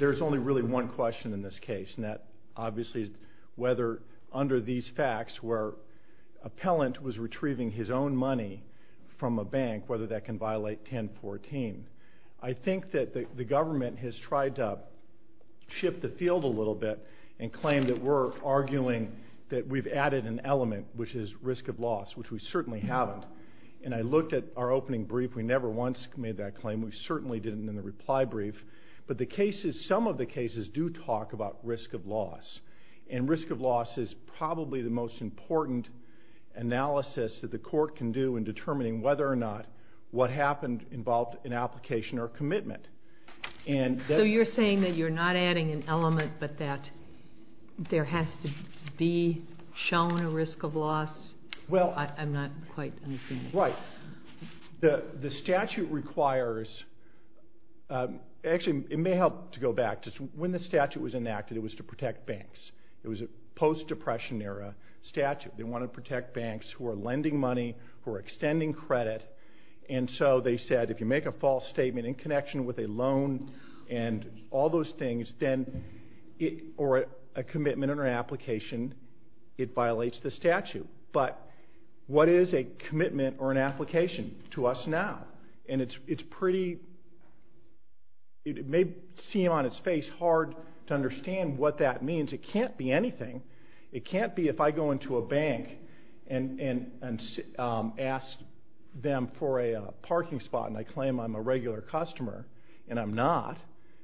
There is only really one question in this case, and that obviously is whether under these facts, where appellant was retrieving his own money from a bank, whether that can violate 1014. I think that the government has tried to shift the field a little bit and claim that we're arguing that we've added an element, which is risk of loss, which we certainly haven't. And I looked at our opening brief. We never once made that claim. We certainly didn't in the reply brief. But some of the cases do talk about risk of loss, and risk of loss is probably the most important analysis that the court can do in determining whether or not what happened involved an application or commitment. So you're saying that you're not adding an element, but that there has to be shown a risk of loss? I'm not quite understanding. Right. The statute requires – actually, it may help to go back. When the statute was enacted, it was to protect banks. It was a post-Depression era statute. They wanted to protect banks who were lending money, who were extending credit. And so they said if you make a false statement in connection with a loan and all those things, or a commitment or an application, it violates the statute. But what is a commitment or an application to us now? And it's pretty – it may seem on its face hard to understand what that means. It can't be anything. It can't be if I go into a bank and ask them for a parking spot and I claim I'm a regular customer and I'm not.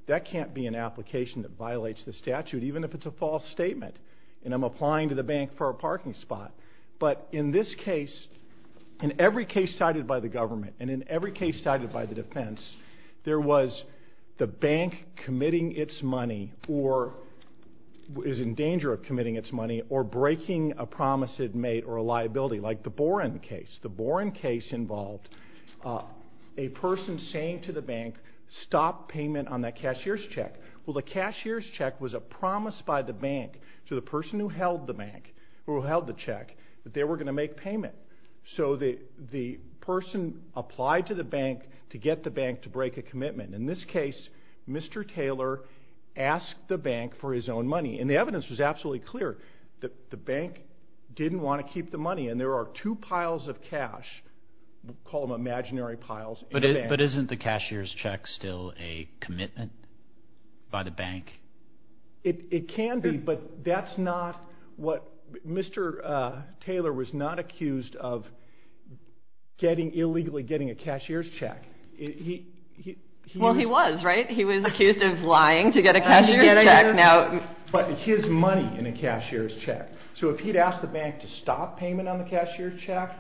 That can't be an application that violates the statute, even if it's a false statement and I'm applying to the bank for a parking spot. But in this case, in every case cited by the government and in every case cited by the defense, there was the bank committing its money or is in danger of committing its money or breaking a promise it made or a liability. Like the Boren case. The Boren case involved a person saying to the bank, stop payment on that cashier's check. Well, the cashier's check was a promise by the bank to the person who held the check that they were going to make payment. So the person applied to the bank to get the bank to break a commitment. In this case, Mr. Taylor asked the bank for his own money. And the evidence was absolutely clear that the bank didn't want to keep the money. And there are two piles of cash, we'll call them imaginary piles, in the bank. But isn't the cashier's check still a commitment by the bank? It can be, but that's not what Mr. Taylor was not accused of illegally getting a cashier's check. Well, he was, right? He was accused of lying to get a cashier's check. But his money in a cashier's check. So if he'd asked the bank to stop payment on the cashier's check,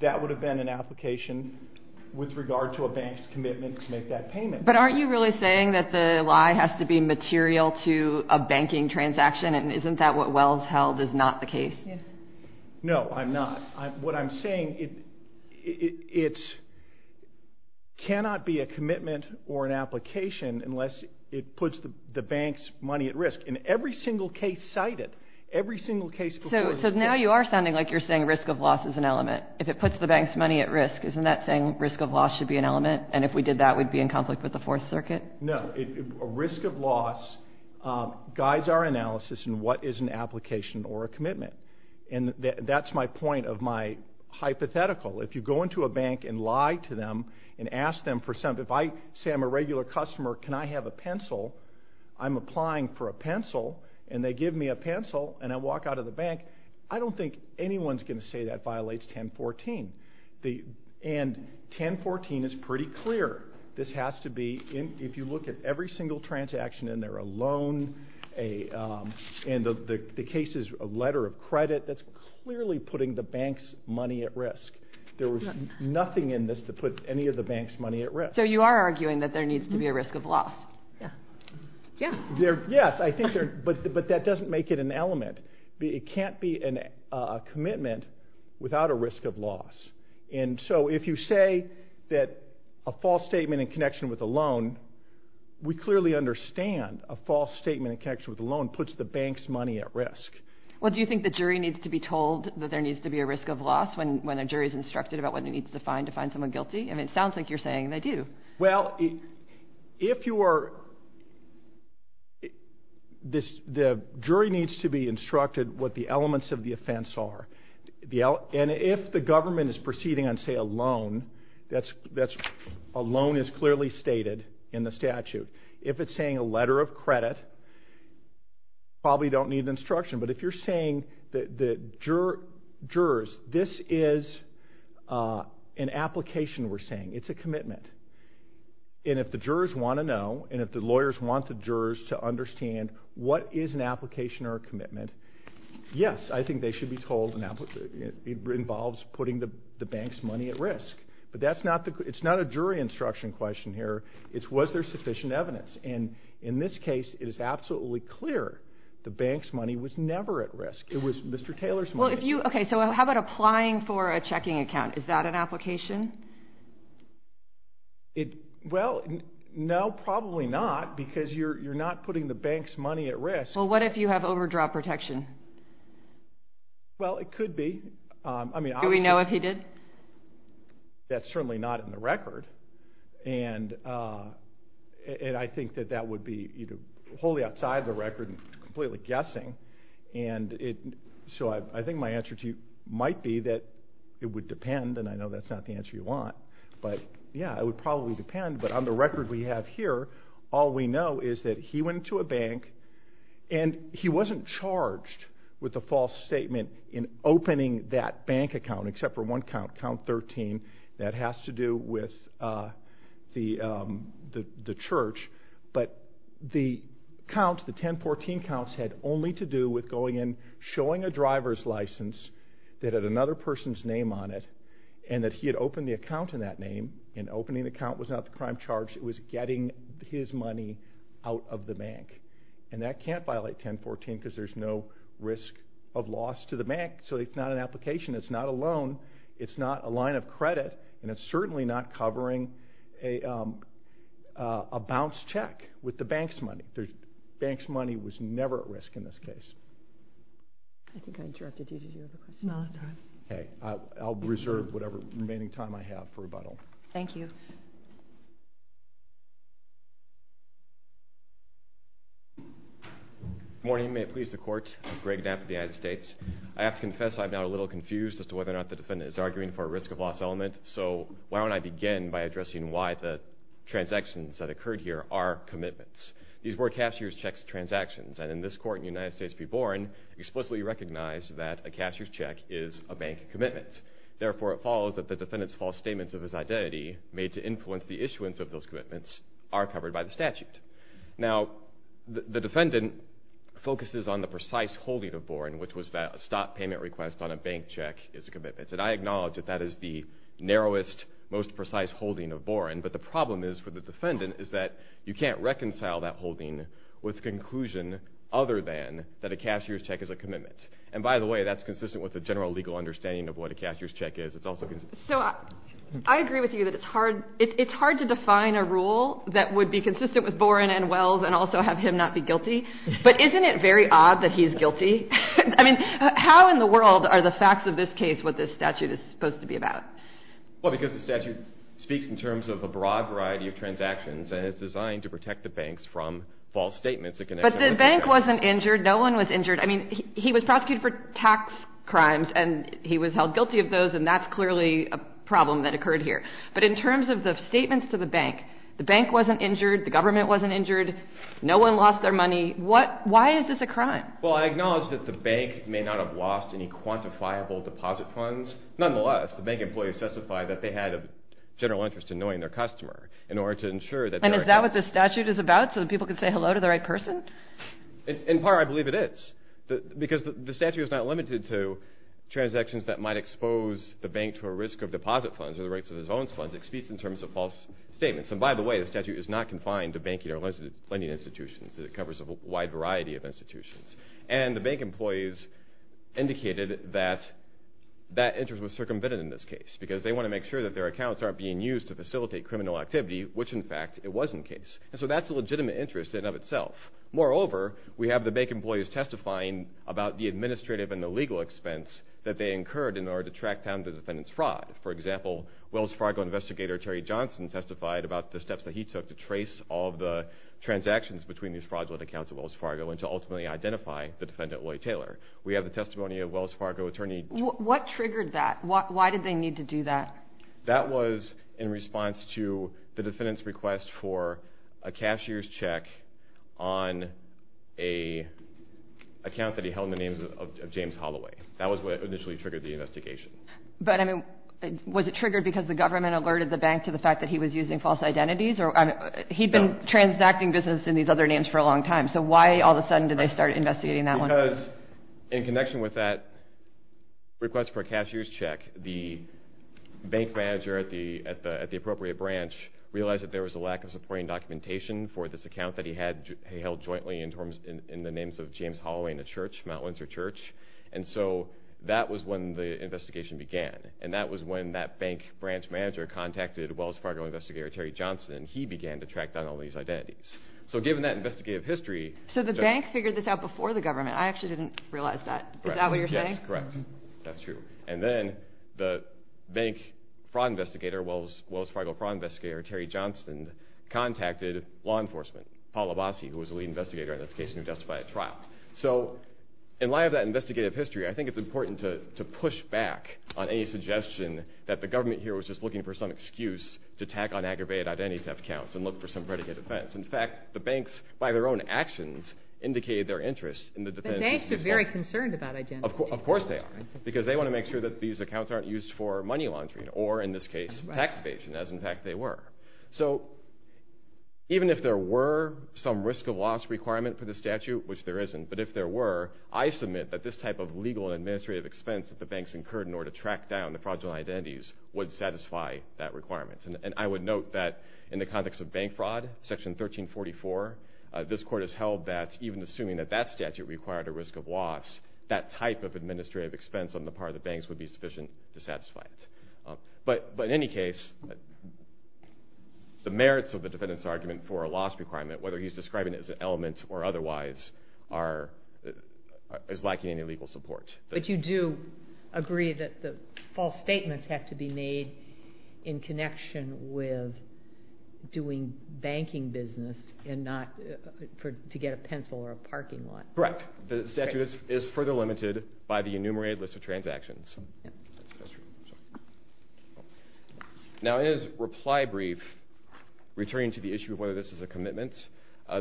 that would have been an application with regard to a bank's commitment to make that payment. But aren't you really saying that the lie has to be material to a banking transaction? And isn't that what Wells held is not the case? No, I'm not. What I'm saying, it cannot be a commitment or an application unless it puts the bank's money at risk. In every single case cited, every single case before this case. So now you are sounding like you're saying risk of loss is an element. If it puts the bank's money at risk, isn't that saying risk of loss should be an element? And if we did that, we'd be in conflict with the Fourth Circuit? No, a risk of loss guides our analysis in what is an application or a commitment. And that's my point of my hypothetical. If you go into a bank and lie to them and ask them for something, if I say I'm a regular customer, can I have a pencil, I'm applying for a pencil, and they give me a pencil and I walk out of the bank, I don't think anyone's going to say that violates 1014. And 1014 is pretty clear. This has to be, if you look at every single transaction in there, a loan, and the case is a letter of credit, that's clearly putting the bank's money at risk. There was nothing in this that put any of the bank's money at risk. So you are arguing that there needs to be a risk of loss? Yes, but that doesn't make it an element. It can't be a commitment without a risk of loss. And so if you say that a false statement in connection with a loan, we clearly understand a false statement in connection with a loan puts the bank's money at risk. Well, do you think the jury needs to be told that there needs to be a risk of loss when a jury is instructed about what it needs to find to find someone guilty? I mean, it sounds like you're saying they do. Well, the jury needs to be instructed what the elements of the offense are. And if the government is proceeding on, say, a loan, a loan is clearly stated in the statute. If it's saying a letter of credit, probably don't need instruction. But if you're saying that jurors, this is an application we're saying. It's a commitment. And if the jurors want to know and if the lawyers want the jurors to understand what is an application or a commitment, yes, I think they should be told it involves putting the bank's money at risk. But it's not a jury instruction question here. It's was there sufficient evidence. And in this case, it is absolutely clear the bank's money was never at risk. It was Mr. Taylor's money. Okay, so how about applying for a checking account? Is that an application? Well, no, probably not because you're not putting the bank's money at risk. Well, what if you have overdraft protection? Well, it could be. Do we know if he did? That's certainly not in the record. And I think that that would be wholly outside the record and completely guessing. So I think my answer to you might be that it would depend, and I know that's not the answer you want. But, yeah, it would probably depend. But on the record we have here, all we know is that he went to a bank and he wasn't charged with a false statement in opening that bank account, except for one count, count 13. That has to do with the church. But the count, the 1014 counts, had only to do with going in, showing a driver's license that had another person's name on it, and that he had opened the account in that name. And opening the account was not the crime charge. It was getting his money out of the bank. And that can't violate 1014 because there's no risk of loss to the bank. So it's not an application. It's not a loan. It's not a line of credit. And it's certainly not covering a bounce check with the bank's money. The bank's money was never at risk in this case. I think I interrupted you. Did you have a question? No, I'm done. Okay. I'll reserve whatever remaining time I have for rebuttal. Thank you. Good morning. May it please the Court. I'm Greg Knapp of the United States. I have to confess I'm now a little confused as to whether or not the defendant is arguing for a risk of loss element. So why don't I begin by addressing why the transactions that occurred here are commitments. These were cashier's check transactions. And in this court in the United States v. Boren, explicitly recognized that a cashier's check is a bank commitment. Therefore, it follows that the defendant's false statements of his identity, made to influence the issuance of those commitments, are covered by the statute. Now, the defendant focuses on the precise holding of Boren, which was that a stop payment request on a bank check is a commitment. And I acknowledge that that is the narrowest, most precise holding of Boren. But the problem is for the defendant is that you can't reconcile that holding with conclusion other than that a cashier's check is a commitment. And by the way, that's consistent with the general legal understanding of what a cashier's check is. So I agree with you that it's hard to define a rule that would be consistent with Boren and Wells and also have him not be guilty. But isn't it very odd that he's guilty? I mean, how in the world are the facts of this case what this statute is supposed to be about? Well, because the statute speaks in terms of a broad variety of transactions and is designed to protect the banks from false statements. But the bank wasn't injured. No one was injured. I mean, he was prosecuted for tax crimes and he was held guilty of those and that's clearly a problem that occurred here. But in terms of the statements to the bank, the bank wasn't injured. The government wasn't injured. No one lost their money. Why is this a crime? Well, I acknowledge that the bank may not have lost any quantifiable deposit funds. Nonetheless, the bank employees testified that they had a general interest in knowing their customer in order to ensure that they were held guilty. And is that what this statute is about, so that people can say hello to the right person? In part, I believe it is. Because the statute is not limited to transactions that might expose the bank to a risk of deposit funds or the rights of its own funds. It speaks in terms of false statements. And by the way, the statute is not confined to banking or lending institutions. It covers a wide variety of institutions. And the bank employees indicated that that interest was circumvented in this case because they want to make sure that their accounts aren't being used to facilitate criminal activity, which, in fact, it was in the case. And so that's a legitimate interest in and of itself. Moreover, we have the bank employees testifying about the administrative and the legal expense that they incurred in order to track down the defendant's fraud. For example, Wells Fargo investigator Terry Johnson testified about the steps that he took to trace all of the transactions between these fraudulent accounts at Wells Fargo and to ultimately identify the defendant, Lloyd Taylor. We have the testimony of Wells Fargo attorney... What triggered that? Why did they need to do that? That was in response to the defendant's request for a cashier's check on an account that he held in the name of James Holloway. That was what initially triggered the investigation. But, I mean, was it triggered because the government alerted the bank to the fact that he was using false identities? He'd been transacting business in these other names for a long time, so why all of a sudden did they start investigating that one? Because in connection with that request for a cashier's check, the bank manager at the appropriate branch realized that there was a lack of supporting documentation for this account that he held jointly in the names of James Holloway in a church, Mount Windsor Church. And so that was when the investigation began. And that was when that bank branch manager contacted Wells Fargo investigator Terry Johnson. He began to track down all of these identities. So given that investigative history... So the bank figured this out before the government. I actually didn't realize that. Is that what you're saying? Yes, correct. That's true. And then the bank fraud investigator, Wells Fargo fraud investigator Terry Johnson, contacted law enforcement. Paul Abasi, who was the lead investigator in this case, who justified a trial. So in light of that investigative history, I think it's important to push back on any suggestion that the government here was just looking for some excuse to tack on aggravated identity theft accounts and look for some predicate offense. In fact, the banks, by their own actions, indicated their interest in the defendant's... But banks are very concerned about identity theft. Of course they are, because they want to make sure that these accounts aren't used for money laundering or, in this case, tax evasion, as in fact they were. So even if there were some risk of loss requirement for the statute, which there isn't, but if there were, I submit that this type of legal and administrative expense that the banks incurred in order to track down the fraudulent identities would satisfy that requirement. And I would note that in the context of bank fraud, Section 1344, this court has held that even assuming that that statute required a risk of loss, that type of administrative expense on the part of the banks would be sufficient to satisfy it. But in any case, the merits of the defendant's argument for a loss requirement, whether he's describing it as an element or otherwise, is lacking any legal support. But you do agree that the false statements have to be made in connection with doing banking business and not to get a pencil or a parking lot. Correct. The statute is further limited by the enumerated list of transactions. Now in his reply brief, returning to the issue of whether this is a commitment,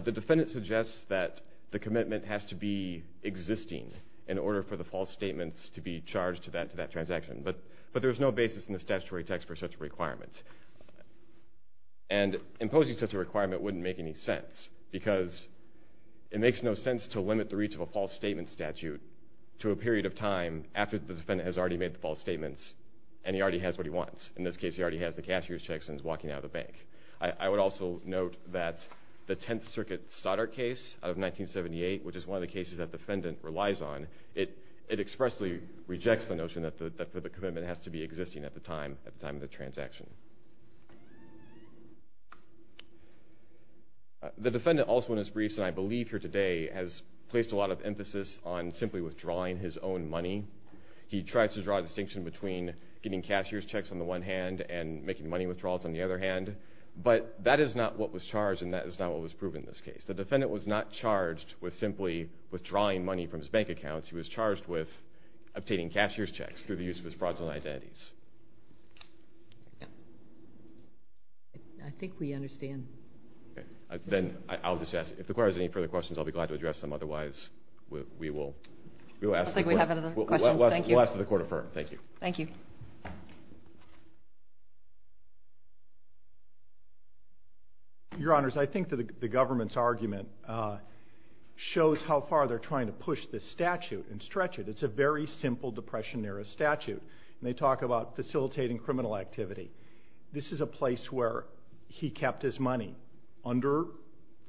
the defendant suggests that the commitment has to be existing in order for the false statements to be charged to that transaction. But there's no basis in the statutory text for such a requirement. And imposing such a requirement wouldn't make any sense, because it makes no sense to limit the reach of a false statement statute to a period of time after the defendant has already made the false statements and he already has what he wants. In this case, he already has the cashier's checks and is walking out of the bank. I would also note that the Tenth Circuit Stoddart case of 1978, which is one of the cases that the defendant relies on, it expressly rejects the notion that the commitment has to be existing at the time of the transaction. The defendant also in his briefs, and I believe here today, has placed a lot of emphasis on simply withdrawing his own money. He tries to draw a distinction between getting cashier's checks on the one hand and making money withdrawals on the other hand. But that is not what was charged and that is not what was proven in this case. The defendant was not charged with simply withdrawing money from his bank accounts. He was charged with obtaining cashier's checks through the use of his fraudulent identities. I think we understand. Then I'll just ask, if the court has any further questions, I'll be glad to address them. Otherwise, we will ask the court. I don't think we have any other questions. We'll ask the court to affirm. Thank you. Thank you. Your Honors, I think the government's argument shows how far they're trying to push this statute and stretch it. It's a very simple Depression-era statute. They talk about facilitating criminal activity. This is a place where he kept his money under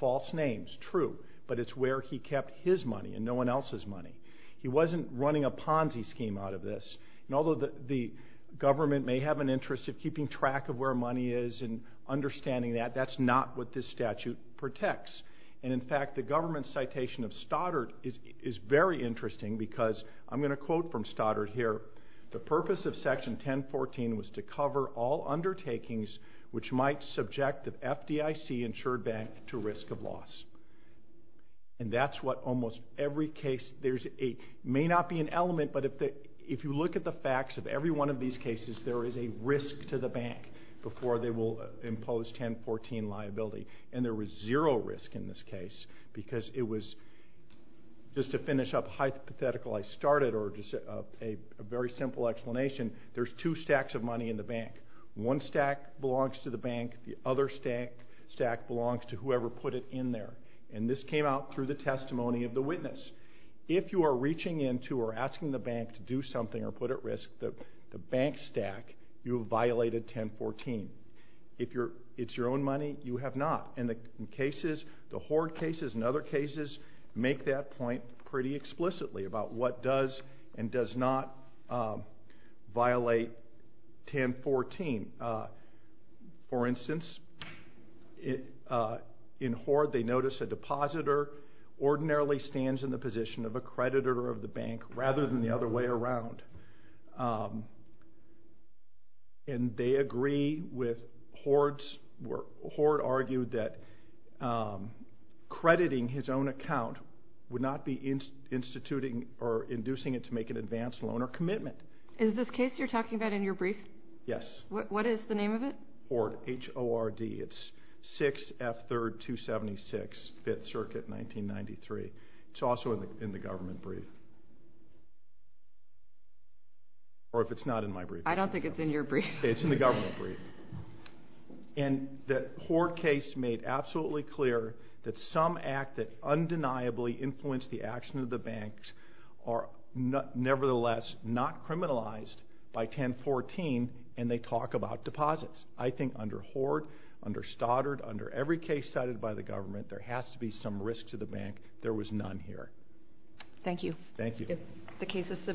false names, true, but it's where he kept his money and no one else's money. He wasn't running a Ponzi scheme out of this. Although the government may have an interest of keeping track of where money is and understanding that, that's not what this statute protects. In fact, the government's citation of Stoddard is very interesting because, I'm going to quote from Stoddard here, the purpose of Section 1014 was to cover all undertakings which might subject the FDIC insured bank to risk of loss. And that's what almost every case, there may not be an element, but if you look at the facts of every one of these cases, there is a risk to the bank before they will impose 1014 liability. And there was zero risk in this case because it was, just to finish up hypothetical, I started a very simple explanation. There's two stacks of money in the bank. One stack belongs to the bank. The other stack belongs to whoever put it in there. And this came out through the testimony of the witness. If you are reaching into or asking the bank to do something or put at risk the bank stack, you have violated 1014. If it's your own money, you have not. And the Horde cases and other cases make that point pretty explicitly about what does and does not violate 1014. For instance, in Horde they notice a depositor ordinarily stands in the position of a creditor of the bank rather than the other way around. And they agree with Horde's work. Horde argued that crediting his own account would not be instituting or inducing it to make an advance loan or commitment. Is this case you're talking about in your brief? Yes. What is the name of it? Horde, H-O-R-D. It's 6F 3rd 276, 5th Circuit, 1993. It's also in the government brief. Or if it's not in my brief. I don't think it's in your brief. It's in the government brief. And the Horde case made absolutely clear that some act that undeniably influenced the action of the banks are nevertheless not criminalized by 1014, and they talk about deposits. I think under Horde, under Stoddard, under every case cited by the government, there has to be some risk to the bank. There was none here. Thank you. Thank you.